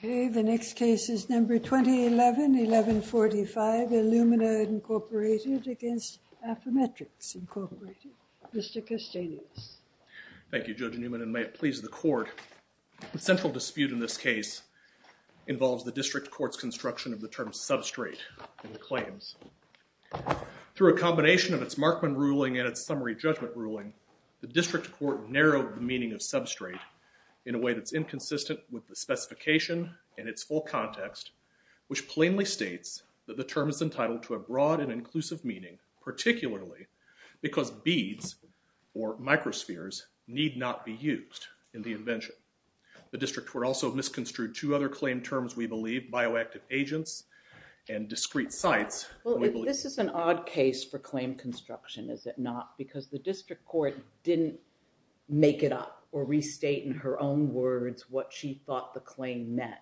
2011-1145 ILLUMINA v. AFFYMETRIX Mr. Castanius Thank you, Judge Newman, and may it please the Court. The central dispute in this case involves the District Court's construction of the term substrate in the claims. Through a combination of its Markman ruling and its court narrowed the meaning of substrate in a way that's inconsistent with the specification and its full context, which plainly states that the term is entitled to a broad and inclusive meaning, particularly because beads or microspheres need not be used in the invention. The District Court also misconstrued two other claim terms, we believe, bioactive agents and discrete sites. JUSTICE GINSBURG Well, this is an odd case for claim construction, is it not? Because the District Court didn't make it up or restate in her own words what she thought the claim meant.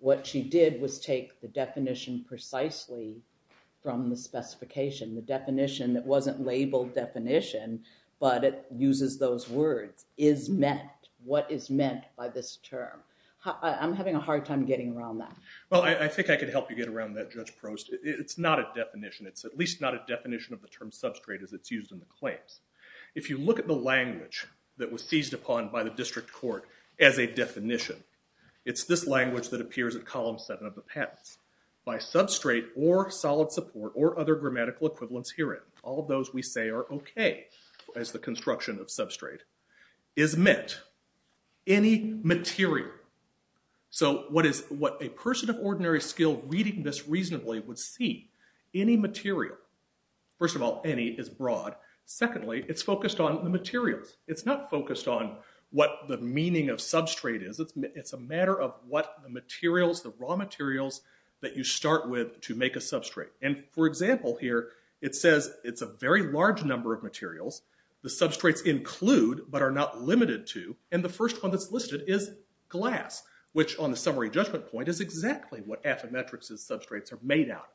What she did was take the definition precisely from the specification, the definition that wasn't labeled definition, but it uses those words, is meant, what is meant by this term. I'm having a hard time getting around that. MR. CASTANIUS Well, I think I could help you get around that, Judge Prost. It's not a definition. It's at least not a definition of the term substrate as it's used in the claims. If you look at the language that was seized upon by the District Court as a definition, it's this language that appears at column seven of the patents. By substrate or solid support or other grammatical equivalents herein, all those we say are okay as the construction of substrate, is meant any material. So what is, what a person of ordinary skill reading this reasonably would see, any material, first of all, any is broad. Secondly, it's focused on the materials. It's not focused on what the meaning of substrate is. It's a matter of what the materials, the raw materials that you start with to make a substrate. And for example here, it says it's a very large number of materials. The substrates include but are not limited to, and the first one that's listed is glass, which on the summary judgment point is exactly what Affymetrix's substrates are made out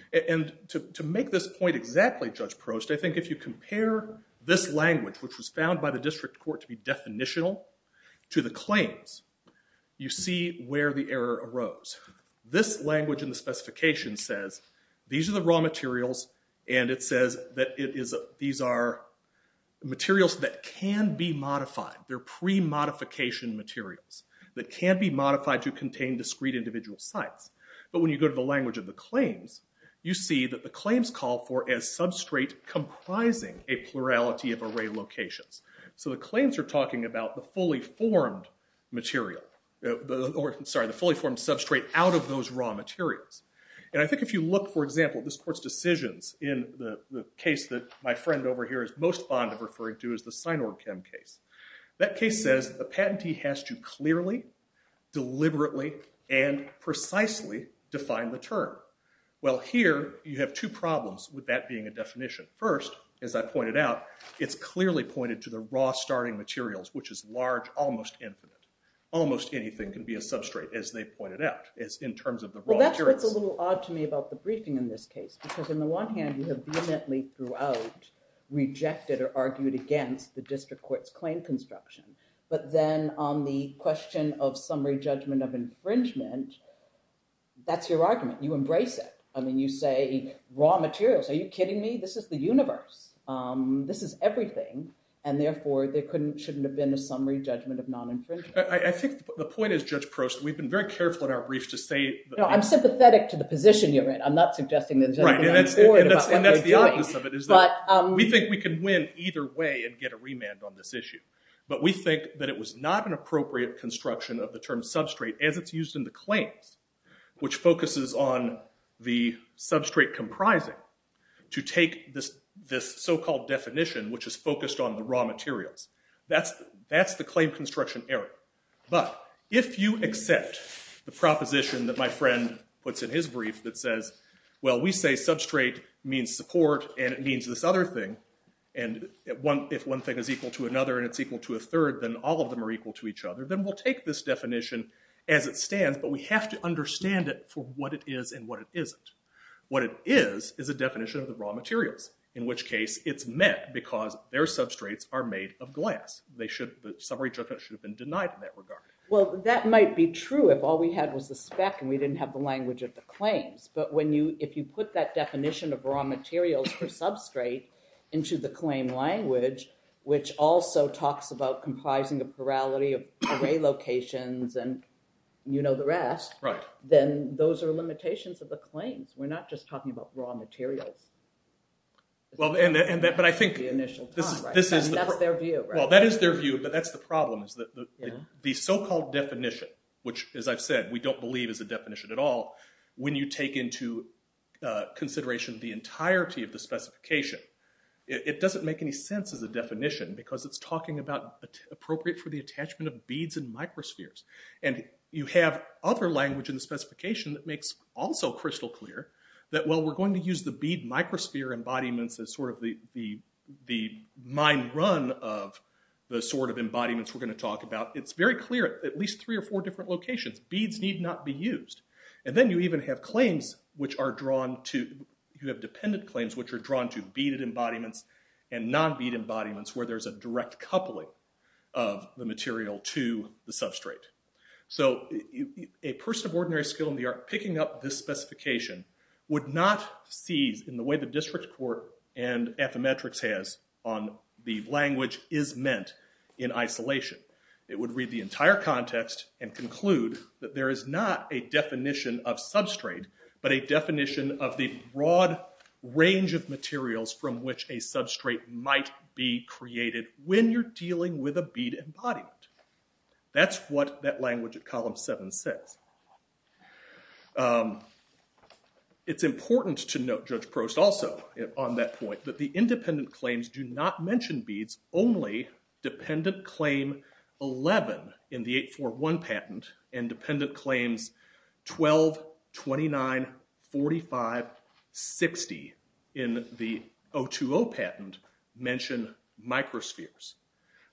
of. And to make this point exactly, Judge Prost, I think if you compare this language, which was found by the District Court to be definitional, to the claims, you see where the error arose. This language in the specification says these are the raw materials and it says that it is, these are materials that can be modified. They're pre-modification materials that can be modified to contain discrete individual sites. But when you go to the language of the claims, you see that the claims call for a substrate comprising a plurality of array locations. So the claims are talking about the fully formed material, sorry, the fully formed substrate out of those raw materials. And I think if you look, for example, at this court's decisions in the case that my friend over here is most fond of referring to as the Synorg-Chem case, that case says a patentee has to clearly, deliberately, and precisely define the term. Well, here, you have two problems with that being a definition. First, as I pointed out, it's clearly pointed to the raw starting materials, which is large, almost infinite. Almost anything can be a substrate, as they pointed out, in terms of the raw materials. Well, that's what's a little odd to me about the briefing in this case, because in the one hand, you have vehemently throughout rejected or argued against the District Court's claim on the construction. But then on the question of summary judgment of infringement, that's your argument. You embrace it. I mean, you say, raw materials, are you kidding me? This is the universe. This is everything. And therefore, there shouldn't have been a summary judgment of non-infringement. I think the point is, Judge Prost, we've been very careful in our briefs to say that No, I'm sympathetic to the position you're in. I'm not suggesting that there's anything I'm bored about what we're doing. Right, and that's the obvious of it, is that we think we can win either way and get a remand on this issue. But we think that it was not an appropriate construction of the term substrate as it's used in the claims, which focuses on the substrate comprising, to take this so-called definition, which is focused on the raw materials. That's the claim construction error. But if you accept the proposition that my friend puts in his brief that says, well, we say substrate means support, and it means this other thing, and if one thing is equal to another, and it's equal to a third, then all of them are equal to each other, then we'll take this definition as it stands, but we have to understand it for what it is and what it isn't. What it is is a definition of the raw materials, in which case it's met because their substrates are made of glass. The summary judgment should have been denied in that regard. Well, that might be true if all we had was the spec, and we didn't have the language of the claims. But if you put that definition of raw materials per substrate into the claim language, which also talks about comprising a plurality of array locations, and you know the rest, then those are limitations of the claims. We're not just talking about raw materials. But I think this is... That's their view, right? Well, that is their view, but that's the problem, is that the so-called definition, which, as I've said, we don't believe is a definition at all, when you take into consideration the sense as a definition, because it's talking about appropriate for the attachment of beads in microspheres. And you have other language in the specification that makes also crystal clear that, well, we're going to use the bead microsphere embodiments as sort of the mind run of the sort of embodiments we're going to talk about. It's very clear at least three or four different locations. Beads need not be used. And then you even have claims which are drawn to... You have dependent claims which are drawn to beaded embodiments and non-bead embodiments where there's a direct coupling of the material to the substrate. So a person of ordinary skill in the art picking up this specification would not seize, in the way the district court and ethymetrics has, on the language is meant in isolation. It would read the entire context and conclude that there is not a definition of substrate, but a definition of the broad range of materials from which a substrate might be created when you're dealing with a bead embodiment. That's what that language at column 7 says. It's important to note, Judge Prost, also on that point, that the independent claims do not 29, 45, 60 in the 020 patent mention microspheres.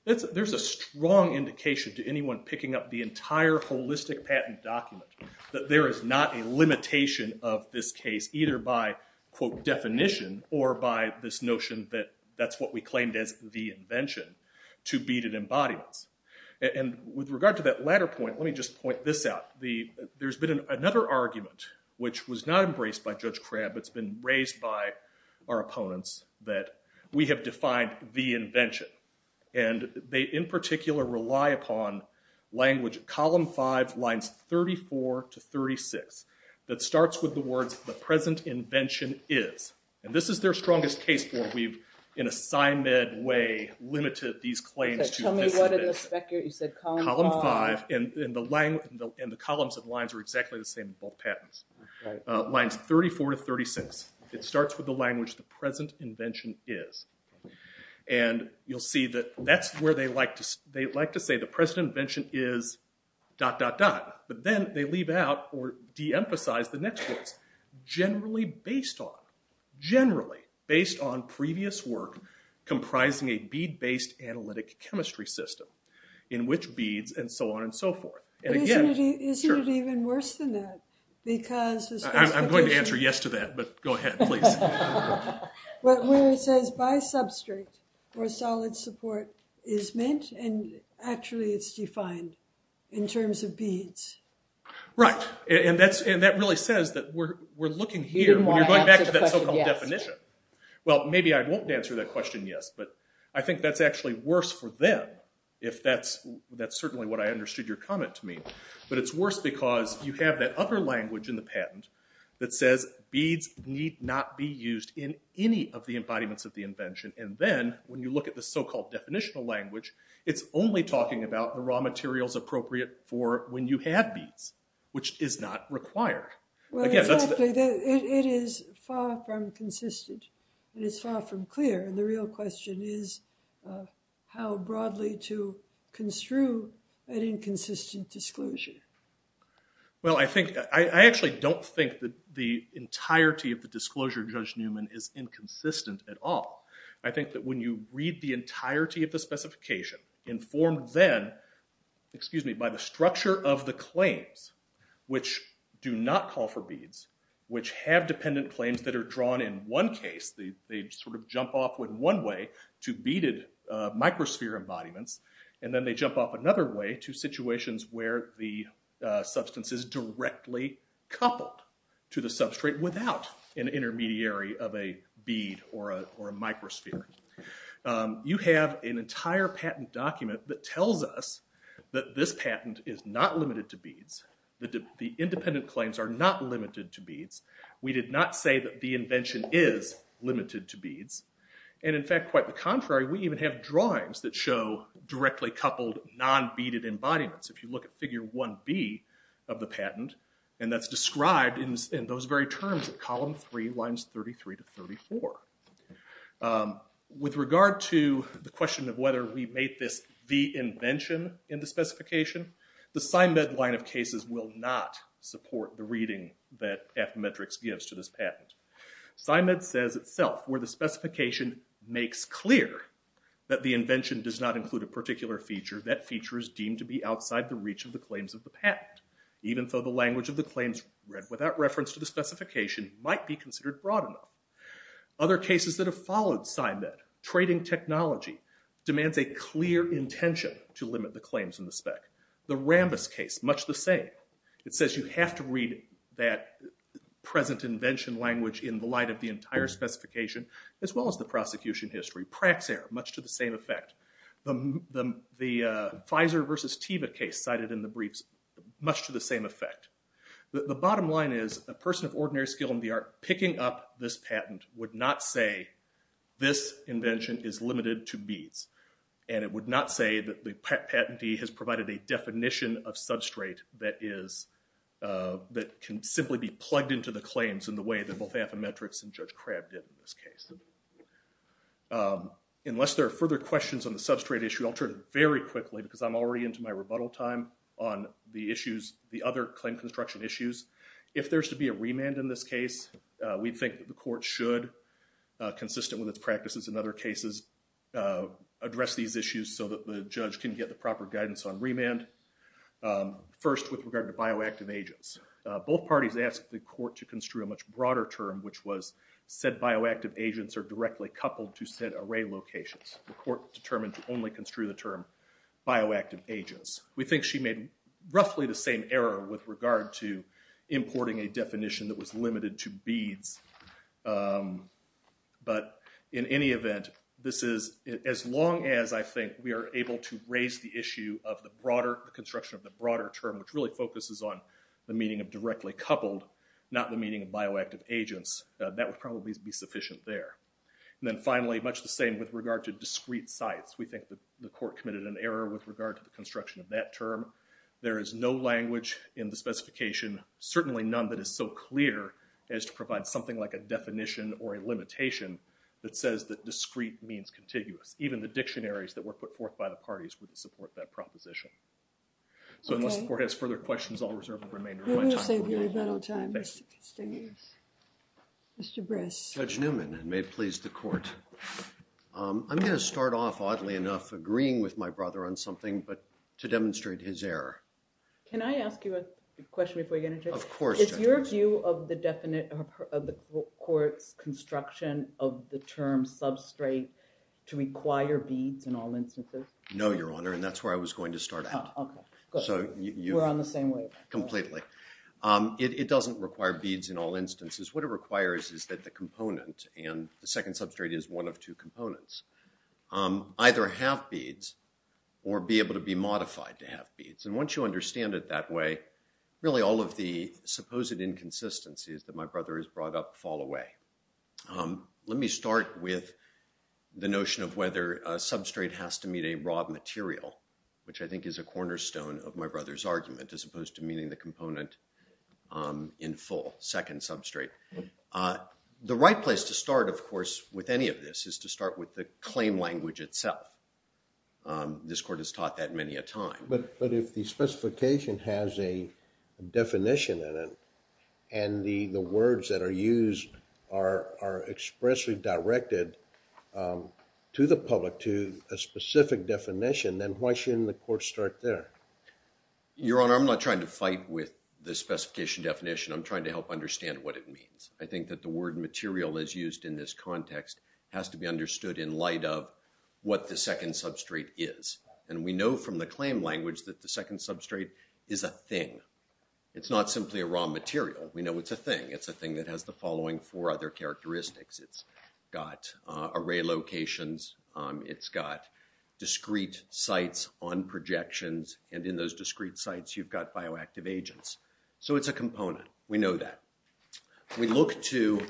There's a strong indication to anyone picking up the entire holistic patent document that there is not a limitation of this case either by quote definition or by this notion that that's what we claimed as the invention to beaded embodiments. And with regard to that latter point, let me just point this out. There's been another argument, which was not embraced by Judge Crabb. It's been raised by our opponents that we have defined the invention. And they, in particular, rely upon language column 5 lines 34 to 36 that starts with the words the present invention is. And this is their strongest case where we've, in a sign med way, limited these claims to column 5 and the columns and lines are exactly the same in both patents. Lines 34 to 36. It starts with the language the present invention is. And you'll see that that's where they like to say the present invention is dot dot dot. But then they leave out or deemphasize the next words. Generally based on, generally based on previous work comprising a bead based analytic chemistry system in which beads and so on and so forth. Isn't it even worse than that? I'm going to answer yes to that, but go ahead, please. Where it says by substrate or solid support is meant and actually it's defined in terms of beads. Right. And that really says that we're looking here when you're going back to that so-called definition. Well, maybe I won't answer that question, yes, but I think that's actually worse for them if that's, that's certainly what I understood your comment to mean. But it's worse because you have that other language in the patent that says beads need not be used in any of the embodiments of the invention. And then when you look at the so-called definitional language, it's only talking about the raw materials appropriate for when you have beads, which is not required. Well, it is far from consistent and it's far from clear. And the real question is how broadly to construe an inconsistent disclosure. Well, I think, I actually don't think that the entirety of the disclosure, Judge Newman, is inconsistent at all. I think that when you read the entirety of the specification informed then, excuse me, by the structure of the claims, which do not call for beads, which have dependent claims that are drawn in one case, they sort of jump off in one way to beaded microsphere embodiments, and then they jump off another way to situations where the substance is directly coupled to the substrate without an intermediary of a bead or a microsphere. You have an entire patent document that tells us that this patent is not limited to beads, that the independent claims are not limited to beads. We did not say that the invention is limited to beads. And in fact, quite the contrary, we even have drawings that show directly coupled non-beaded embodiments. If you look at figure 1B of the patent, and that's described in those very terms in column 3, lines 33 to 34. With regard to the question of whether we made this the invention in the specification, the SyMed line of cases will not support the reading that F-Metrix gives to this patent. SyMed says itself, where the specification makes clear that the invention does not include a particular feature, that feature is deemed to be outside the reach of the claims of the patent. Even though the language of the claims read without reference to the specification might be considered broad enough. Other cases that have followed SyMed, trading technology, demands a clear intention to limit the claims in the spec. The Rambis case, much the same. It says you have to read that present invention language in the light of the entire specification, as well as the prosecution history. Praxair, much to the same effect. The Pfizer versus Teva case cited in the briefs, much to the same effect. The bottom line is, a person of ordinary skill in the art picking up this patent would not say this invention is limited to beads. And it would not say that the patentee has provided a definition of substrate that can simply be plugged into the claims in the way that both F-Metrix and Judge Crabb did in this case. Unless there are further questions on the substrate issue, I'll turn it very quickly, because I'm already into my rebuttal time on the other claim construction issues. If there's to be a remand in this case, we think the court should, consistent with its practices in other cases, address these issues so that the judge can get the proper guidance on remand. First, with regard to bioactive agents. Both parties asked the court to construe a much broader term, which was said bioactive agents are directly coupled to said array locations. The court determined to only construe the term bioactive agents. We think she made roughly the same error with regard to importing a definition that was limited to beads. But in any event, as long as I think we are able to raise the issue of the broader construction of the broader term, which really focuses on the meaning of directly coupled, not the meaning of bioactive agents, that would probably be sufficient there. And then finally, much the same with regard to discrete sites. We think the court committed an error with regard to the construction of that term. There is no language in the specification, certainly none that is so clear, as to provide something like a definition or a limitation that says that discrete means contiguous. Even the dictionaries that were put forth by the parties wouldn't support that proposition. So unless the court has further questions, I'll reserve the remainder of my time for you. We'll save you rebuttal time, Mr. Castanis. Mr. Bress. Judge Newman, and may it please the court. I'm going to start off, oddly enough, agreeing with my brother on something, but to demonstrate his error. Can I ask you a question before you get into it? Of course, Judge. Is your view of the court's construction of the term substrate to require beads in all instances? No, Your Honor, and that's where I was going to start out. Oh, OK. We're on the same wave. Completely. It doesn't require beads in all instances. What it requires is that the component, and the second substrate is one of two components, either have beads or be able to be modified to have beads. And once you understand it that way, really all of the supposed inconsistencies that my brother has brought up fall away. Let me start with the notion of whether a substrate has to meet a raw material, which I think is a cornerstone of my brother's argument, as opposed to meeting the component in full, second substrate. The right place to start, of course, with any of this is to start with the claim language itself. This court has taught that many a time. But if the specification has a definition in it, and the words that are used are expressly directed to the public to a specific definition, then why shouldn't the court start there? Your Honor, I'm not trying to fight with the specification definition. I'm trying to help understand what it means. I think that the word material is used in this context has to be understood in light of what the second substrate is. And we know from the claim language that the second substrate is a thing. It's not simply a raw material. We know it's a thing that has the following four other characteristics. It's got array locations. It's got discrete sites on projections. And in those discrete sites, you've got bioactive agents. So it's a component. We know that. We look to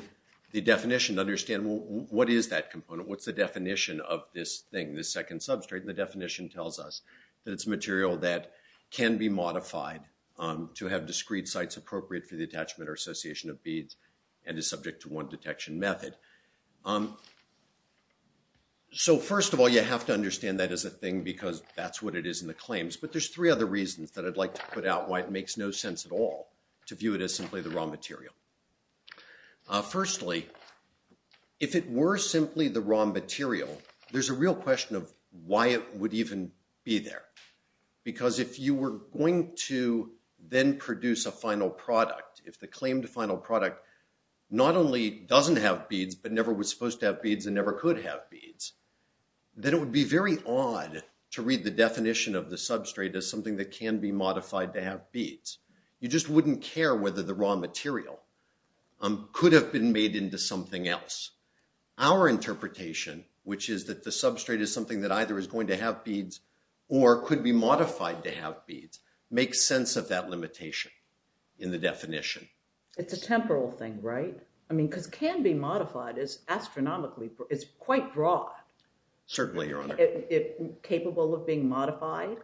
the definition to understand, well, what is that component? What's the definition of this thing, this second substrate? And the definition tells us that it's a material that can be modified to have discrete sites appropriate for the attachment or association of beads and is subject to one detection method. So first of all, you have to understand that as a thing because that's what it is in the claims. But there's three other reasons that I'd like to put out why it makes no sense at all to view it as simply the raw material. Firstly, if it were simply the raw material, there's a real question of why it would even be there. Because if you were going to then produce a final product, if the claimed final product not only doesn't have beads but never was supposed to have beads and never could have beads, then it would be very odd to read the definition of the substrate as something that can be modified to have beads. You just wouldn't care whether the raw material could have been made into something else. Our interpretation, which is that the substrate is something that either is going to have beads, makes sense of that limitation in the definition. It's a temporal thing, right? I mean, because can be modified is astronomically, it's quite broad. Certainly, Your Honor. Capable of being modified.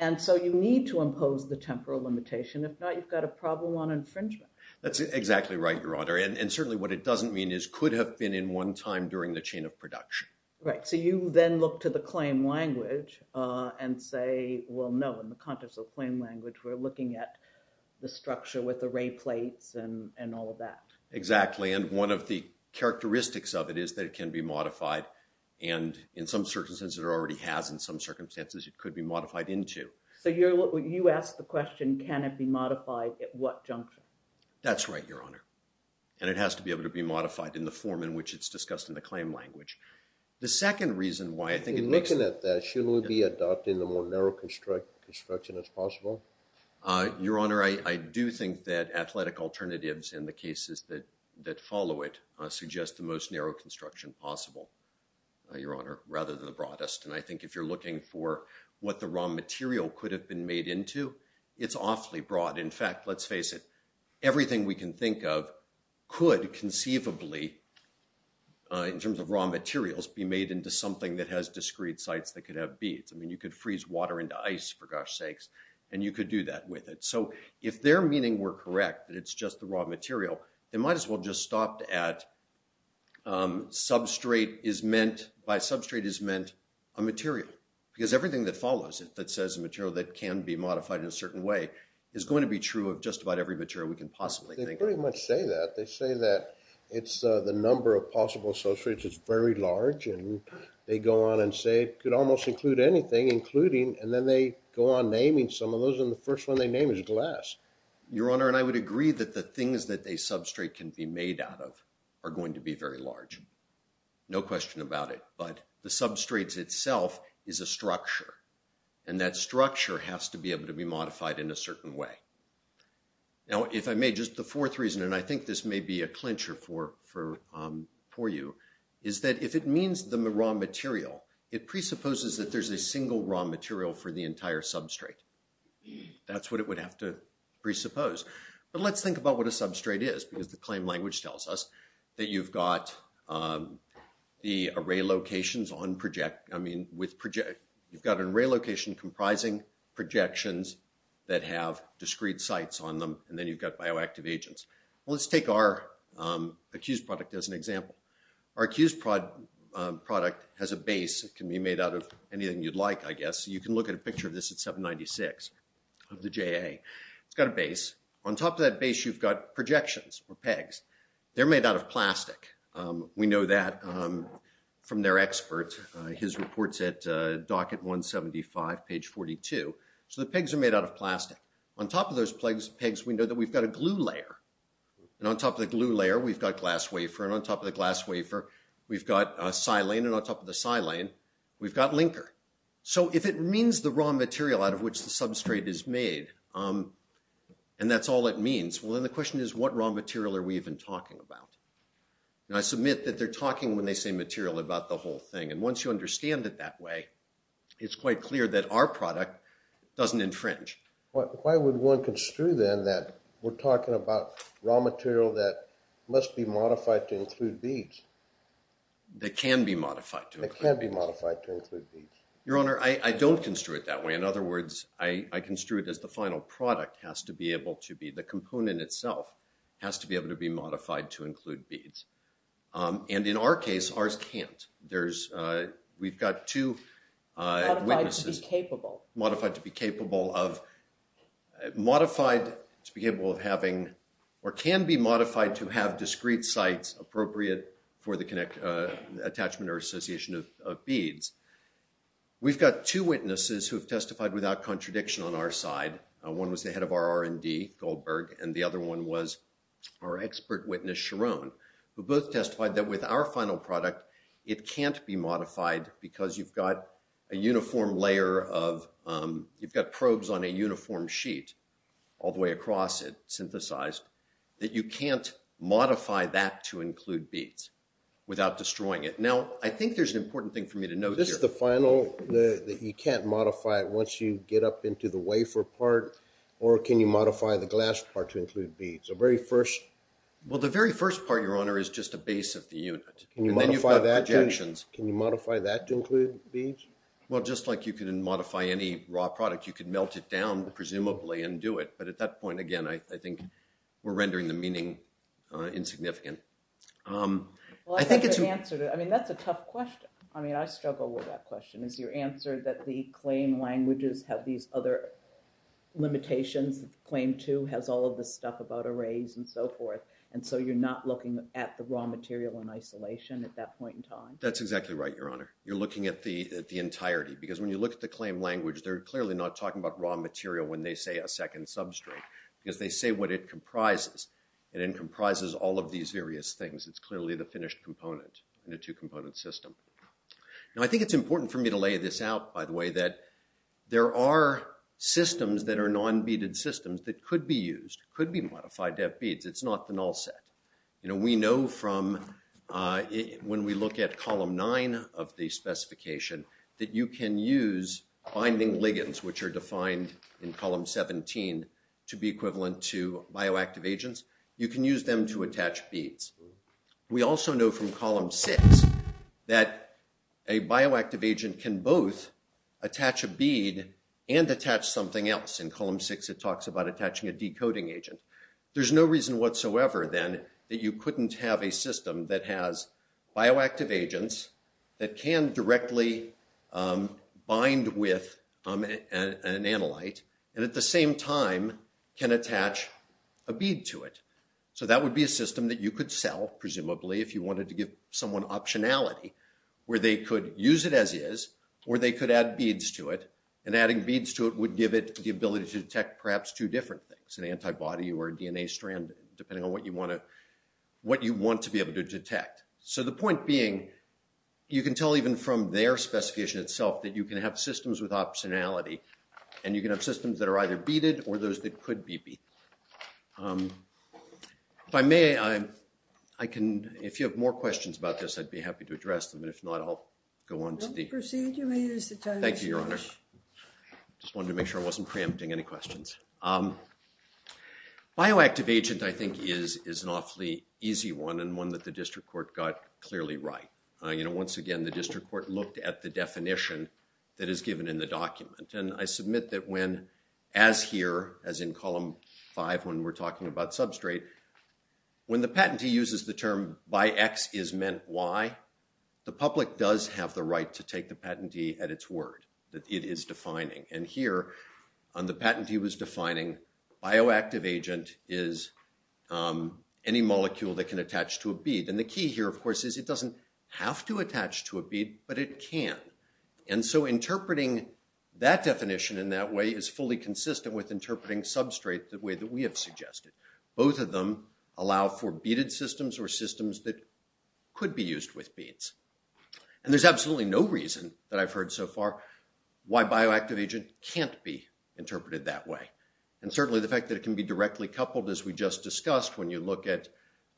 And so you need to impose the temporal limitation. If not, you've got a problem on infringement. That's exactly right, Your Honor. And certainly what it doesn't mean is could have been in one time during the chain of production. Right. So you then look to the claim language and say, well, no, in the context of claim language, we're looking at the structure with the ray plates and all of that. Exactly. And one of the characteristics of it is that it can be modified. And in some circumstances it already has, in some circumstances it could be modified into. So you ask the question, can it be modified at what juncture? That's right, Your Honor. And it has to be able to be modified in the form in which it's The second reason why I think it makes it... In looking at that, shouldn't we be adopting the more narrow construction as possible? Your Honor, I do think that athletic alternatives in the cases that follow it suggest the most narrow construction possible, Your Honor, rather than the broadest. And I think if you're looking for what the raw material could have been made into, it's awfully broad. In fact, let's face it, everything we can think of could conceivably, in terms of raw materials, be made into something that has discrete sites that could have beads. I mean, you could freeze water into ice, for gosh sakes, and you could do that with it. So if their meaning were correct, that it's just the raw material, they might as well just stopped at substrate is meant, by substrate is meant a material. Because everything that follows it that says a material that can be modified in a certain way is going to be true of just about every material we can possibly think of. They pretty much say that. They say that it's the number of possible substrates is very large, and they go on and say it could almost include anything, including, and then they go on naming some of those, and the first one they name is glass. Your Honor, and I would agree that the things that a substrate can be made out of are going to be very large. No question about it. But the substrate itself is a structure, and that structure has to be able to be modified in a certain way. Now, if I may, just the fourth reason, and I think this may be a clincher for you, is that if it means the raw material, it presupposes that there's a single raw material for the entire substrate. That's what it would have to presuppose. But let's think about what a substrate is, because the claim language tells us that you've got the array locations on project, I mean, you've got an array location comprising projections that have discrete sites on them, and then you've got bioactive agents. Let's take our accused product as an example. Our accused product has a base that can be made out of anything you'd like, I guess. You can look at a picture of this at 796 of the JA. It's got a base. On top of that base, you've got projections or pegs. They're made out of plastic. We know that from their expert, his reports at docket 175, page 42. So the pegs are made out of plastic. On top of those pegs, we know that we've got a glue layer, and on top of the glue layer, we've got glass wafer, and on top of the glass wafer, we've got silane, and on top of the silane, we've got linker. So if it means the raw material out of which the substrate is made, and that's all it means, well then the question is, what raw material are we even talking about? I submit that they're talking when they say material about the whole thing, and once you understand it that way, it's quite clear that our product doesn't infringe. Why would one construe then that we're talking about raw material that must be modified to include beads? That can be modified to include beads. Your Honor, I don't construe it that way. In other words, I construe it as the final product has to be able to be, the component itself has to be able to be modified to include beads. And in our case, ours can't. There's, we've got two witnesses. Modified to be capable. Modified to be capable of, modified to be capable of having, or can be modified to have discrete sites appropriate for the attachment or association of beads. We've got two witnesses who have testified without contradiction on our side. One was the head of our R&D, Goldberg, and the other one was our expert witness, Sharon, who both testified that with our final product, it can't be modified because you've got a uniform layer of, you've got probes on a uniform sheet all the way across it, synthesized, that you can't modify that to include beads without destroying it. Now, I think there's an important thing for me to note here. This is the final, that you can't modify it once you get up into the wafer part, or can you modify the glass part to include beads? It's the very first. Well, the very first part, Your Honor, is just a base of the unit. And then you've got projections. Can you modify that to include beads? Well, just like you can modify any raw product, you can melt it down, presumably, and do it. But at that point, again, I think we're rendering the meaning insignificant. Well, I think it's... Well, I think you've answered it. I mean, that's a tough question. I mean, I struggle with that question, is your answer that the claim languages have these other limitations, claim two has all of this stuff about arrays and so forth, and so you're not looking at the raw material in isolation at that point in time? That's exactly right, Your Honor. You're looking at the entirety, because when you look at the claim language, they're clearly not talking about raw material when they say a second substrate, because they say what it comprises. And it comprises all of these various things. It's clearly the finished component in a two-component system. Now, I think it's important for me to lay this out, by the way, that there are systems that are non-beaded systems that could be used, could be modified to have beads. It's not the null set. You know, we know from... When we look at Column 9 of the specification, that you can use binding ligands, which are defined in Column 17, to be equivalent to bioactive agents. You can use them to attach beads. We also know from Column 6 that a bioactive agent can both attach a bead and attach something else. In Column 6, it talks about attaching a decoding agent. There's no reason whatsoever, then, that you couldn't have a system that has bioactive agents that can directly bind with an analyte, and at the same time, can attach a bead to it. So that would be a system that you could sell, presumably, if you wanted to give someone optionality, where they could use it as is, or they could add beads to it, and adding beads to it would give it the ability to detect perhaps two different things, an antibody or a DNA strand, depending on what you want to be able to detect. So the point being, you can tell even from their specification itself that you can have systems with optionality, and you can have systems that are either beaded or those that could be beaded. If I may, I can, if you have more questions about this, I'd be happy to address them. And if not, I'll go on to the... We'll proceed. You may use the time... Thank you, Your Honor. Just wanted to make sure I wasn't preempting any questions. Bioactive agent, I think, is an awfully easy one, and one that the district court got clearly right. You know, once again, the district court looked at the definition that is given in the document, and I submit that when, as here, as in column five, when we're talking about substrate, when the patentee uses the term, by X is meant Y, the public does have the right to take the patentee at its word, that it is defining. And here, on the patent he was defining, bioactive agent is any molecule that can attach to a bead. And the key here, of course, is it doesn't have to attach to a bead, but it can. And so interpreting that definition in that way is fully consistent with interpreting substrate the way that we have suggested. Both of them allow for beaded systems or systems that could be used with beads. And there's absolutely no reason that I've heard so far why bioactive agent can't be interpreted that way. And certainly the fact that it can be directly coupled, as we just discussed, when you look at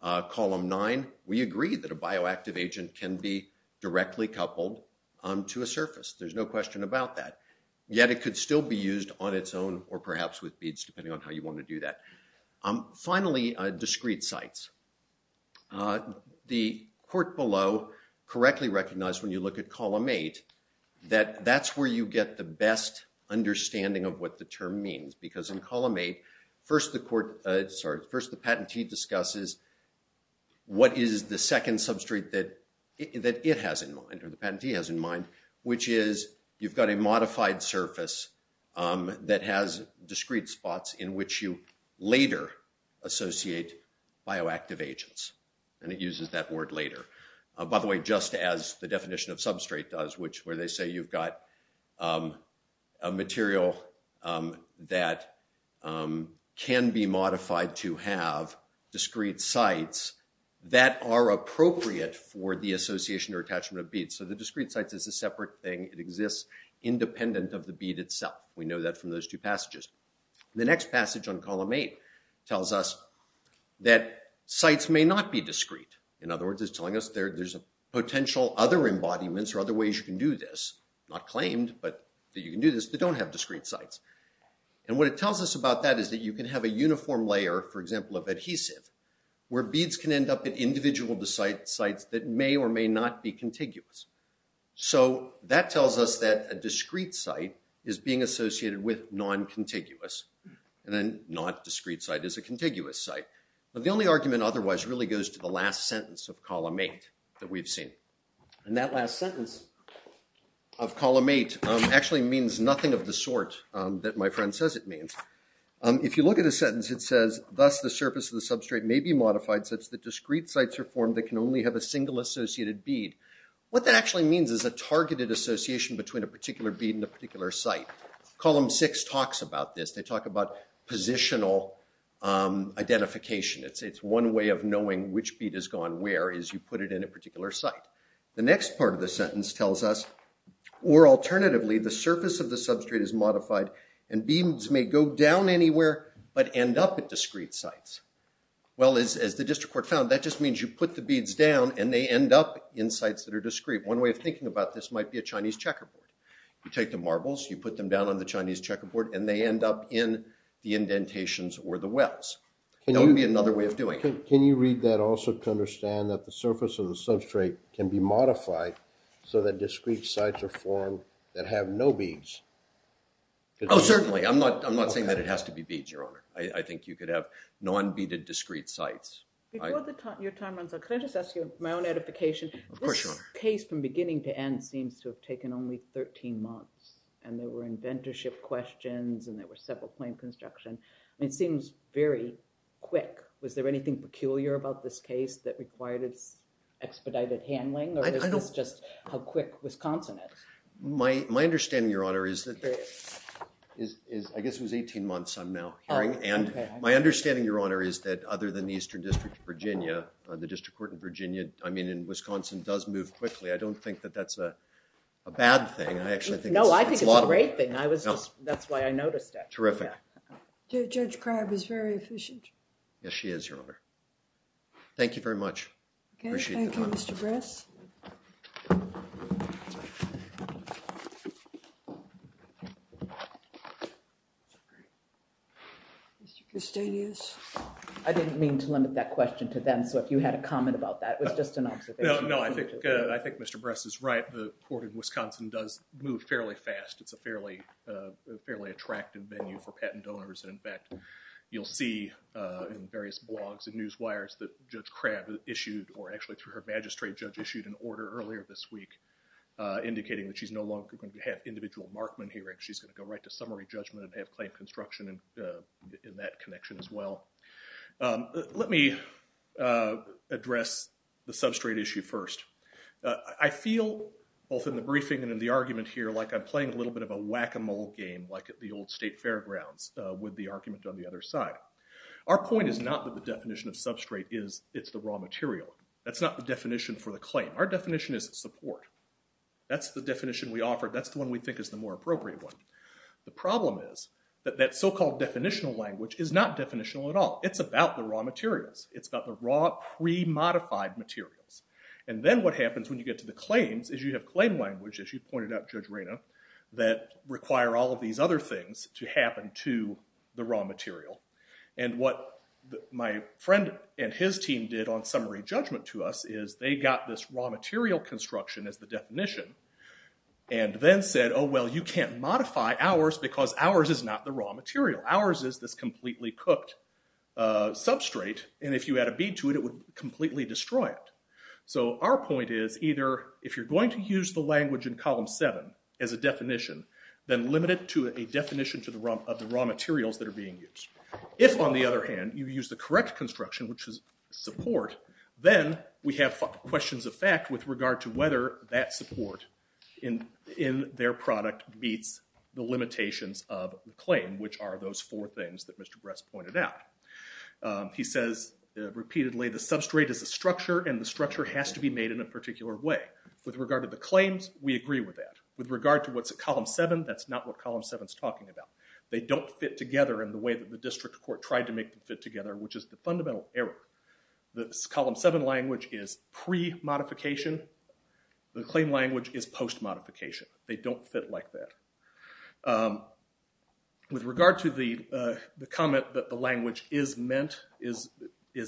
column nine, we agree that a bioactive agent can be directly coupled to a surface. There's no question about that. Yet it could still be used on its own, or perhaps with beads, depending on how you want to do that. Finally, discrete sites. The court below correctly recognized, when you look at column eight, that that's where you get the best understanding of what the term means. Because in column eight, first the patentee discusses what is the second substrate that it has in mind, or the patentee has in mind, which is you've got a modified surface that has discrete spots in which you later associate bioactive agents. And it uses that word later. By the way, just as the definition of substrate does, where they say you've got a material that can be modified to have discrete sites that are appropriate for the association or attachment of beads. So the discrete sites is a separate thing. It exists independent of the bead itself. We know that from those two passages. The next passage on column eight tells us that sites may not be discrete. In other words, it's telling us there's a potential other embodiments or other ways you can do this, not claimed, but that you can do this, that don't have discrete sites. And what it tells us about that is that you can have a uniform layer, for example of adhesive, where beads can end up at individual sites that may or may not be contiguous. So that tells us that a discrete site is being associated with non-contiguous, and then not discrete site is a contiguous site. But the only argument otherwise really goes to the last sentence of column eight that we've seen. And that last sentence of column eight actually means nothing of the sort that my friend says it means. If you look at the sentence, it says, thus the surface of the substrate may be modified such that discrete sites are formed that can only have a single associated bead. What that actually means is a targeted association between a particular bead and a particular site. Column six talks about this. They talk about positional identification. It's one way of knowing which bead has gone where is you put it in a particular site. The next part of the sentence tells us, or alternatively, the surface of the substrate is modified and beads may go down anywhere but end up at discrete sites. Well, as the district court found, that just means you put the beads down and they end up in sites that are discrete. One way of thinking about this might be a Chinese checkerboard. You take the marbles, you put them down on the Chinese checkerboard, and they end up in the indentations or the wells. That would be another way of doing it. Can you read that also to understand that the surface of the substrate can be modified so that discrete sites are formed that have no beads? Oh, certainly. I'm not saying that it has to be beads, Your Honor. I think you could have non-beaded discrete sites. Before your time runs out, can I just ask you my own edification? Of course, Your Honor. This case from beginning to end seems to have taken only 13 months. And there were inventorship questions, and there were several claim construction. It seems very quick. Was there anything peculiar about this case that required its expedited handling? Or is this just how quick Wisconsin is? My understanding, Your Honor, is that I guess it was 18 months I'm now hearing. And my understanding, Your Honor, is that other than the Eastern District of Virginia, the district court in Virginia, I mean, in Wisconsin, does move quickly. I don't think that that's a bad thing. I actually think it's a lot of it. No, I think it's a great thing. That's why I noticed it. Terrific. Judge Crabb is very efficient. Yes, she is, Your Honor. Thank you very much. Okay. Thank you, Mr. Bress. Mr. Custodius. I didn't mean to limit that question to them, so if you had a comment about that, it was just an observation. No, no, I think, uh, I think Mr. Bress is right. The court in Wisconsin does move fairly fast. It's a fairly attractive venue for patent donors, and in fact, you'll see in various blogs and newswires that Judge Crabb issued, or actually through her magistrate judge issued an order earlier this week indicating that she's no longer going to have individual Markman hearings. She's going to go right to summary judgment and have claim construction in that connection as well. Let me address the substrate issue first. I feel, both in the briefing and in the argument here, like I'm playing a little bit of a whack-a-mole game like at the old state fairgrounds with the argument on the other side. Our point is not that the definition of substrate is it's the raw material. That's not the definition for the claim. Our definition is support. That's the definition we offer. That's the one we think is the more appropriate one. The problem is that that so-called definitional language is not definitional at all. It's about the raw materials. It's about the raw pre-modified materials. And then what happens when you get to the claims is you have claim language, as you pointed out, Judge Reyna, that require all of these other things to happen to the raw material. And what my friend and his team did on summary judgment to us is they got this raw material construction as the definition and then said, oh, well, you can't modify ours because ours is not the raw material. Ours is this completely cooked substrate, and if you add a bead to it, it would completely destroy it. So our point is either if you're going to use the language in column 7 as a definition, then limit it to a definition of the raw materials that are being used. If on the other hand, you use the correct construction, which is support, then we have questions of fact with regard to whether that support in their product meets the limitations of the claim, which are those four things that Mr. Bress pointed out. He says repeatedly, the substrate is a structure, and the structure has to be made in a particular way. With regard to the claims, we agree with that. With regard to what's at column 7, that's not what column 7 is talking about. They don't fit together in the way that the district court tried to make them fit together, which is the fundamental error. The column 7 language is pre-modification. The claim language is post-modification. They don't fit like that. With regard to the comment that the language is meant, is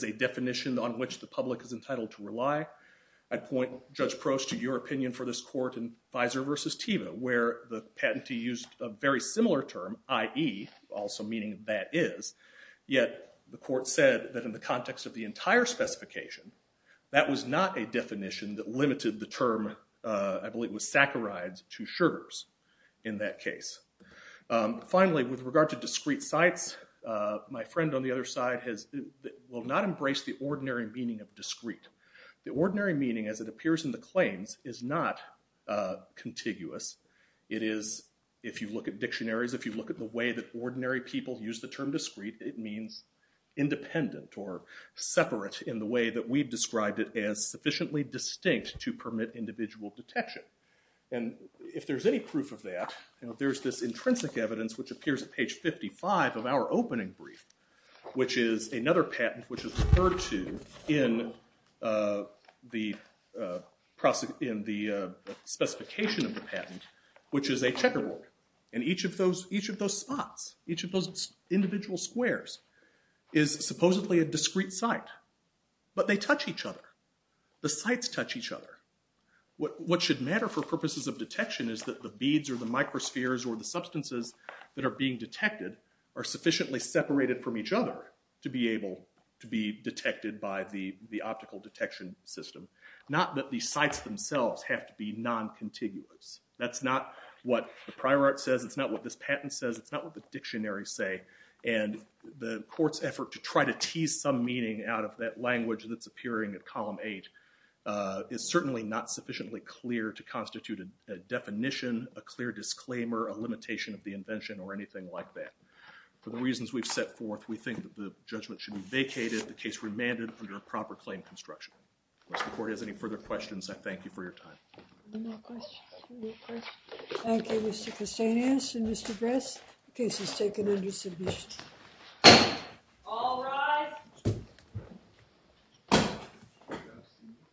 a definition on which the public is entitled to rely, I'd point Judge Proch to your opinion for this court in Fizer versus Teva, where the patentee used a very similar term, i.e., also meaning that is, yet the court said that in the context of the entire specification, that was not a definition that was used in that case. Finally, with regard to discrete sites, my friend on the other side will not embrace the ordinary meaning of discrete. The ordinary meaning, as it appears in the claims, is not contiguous. It is, if you look at dictionaries, if you look at the way that ordinary people use the term discrete, it means independent or separate in the way that we've described it as sufficiently distinct to permit individual detection. And if there's any proof of that, there's this intrinsic evidence, which appears at page 55 of our opening brief, which is another patent which is referred to in the specification of the patent, which is a checkerboard. And each of those spots, each of those individual squares, is supposedly a discrete site. But they touch each other. The sites touch each other. What should matter for purposes of detection is that the beads or the microspheres or the substances that are being detected are sufficiently separated from each other to be able to be detected by the optical detection system. Not that these sites themselves have to be non-contiguous. That's not what the prior art says. It's not what this patent says. It's not what the dictionaries say. And the court's effort to try to tease some meaning out of that language that's appearing in Column 8 is certainly not sufficiently clear to constitute a definition, a clear disclaimer, a limitation of the invention, or anything like that. For the reasons we've set forth, we think that the judgment should be vacated, the case remanded under a proper claim construction. Of course, if the court has any further questions, I thank you for your time. Any more questions? Any more questions? Thank you, Mr. Castanis and Mr. Bress. The case is taken under submission. All rise. Thank you. Thank you.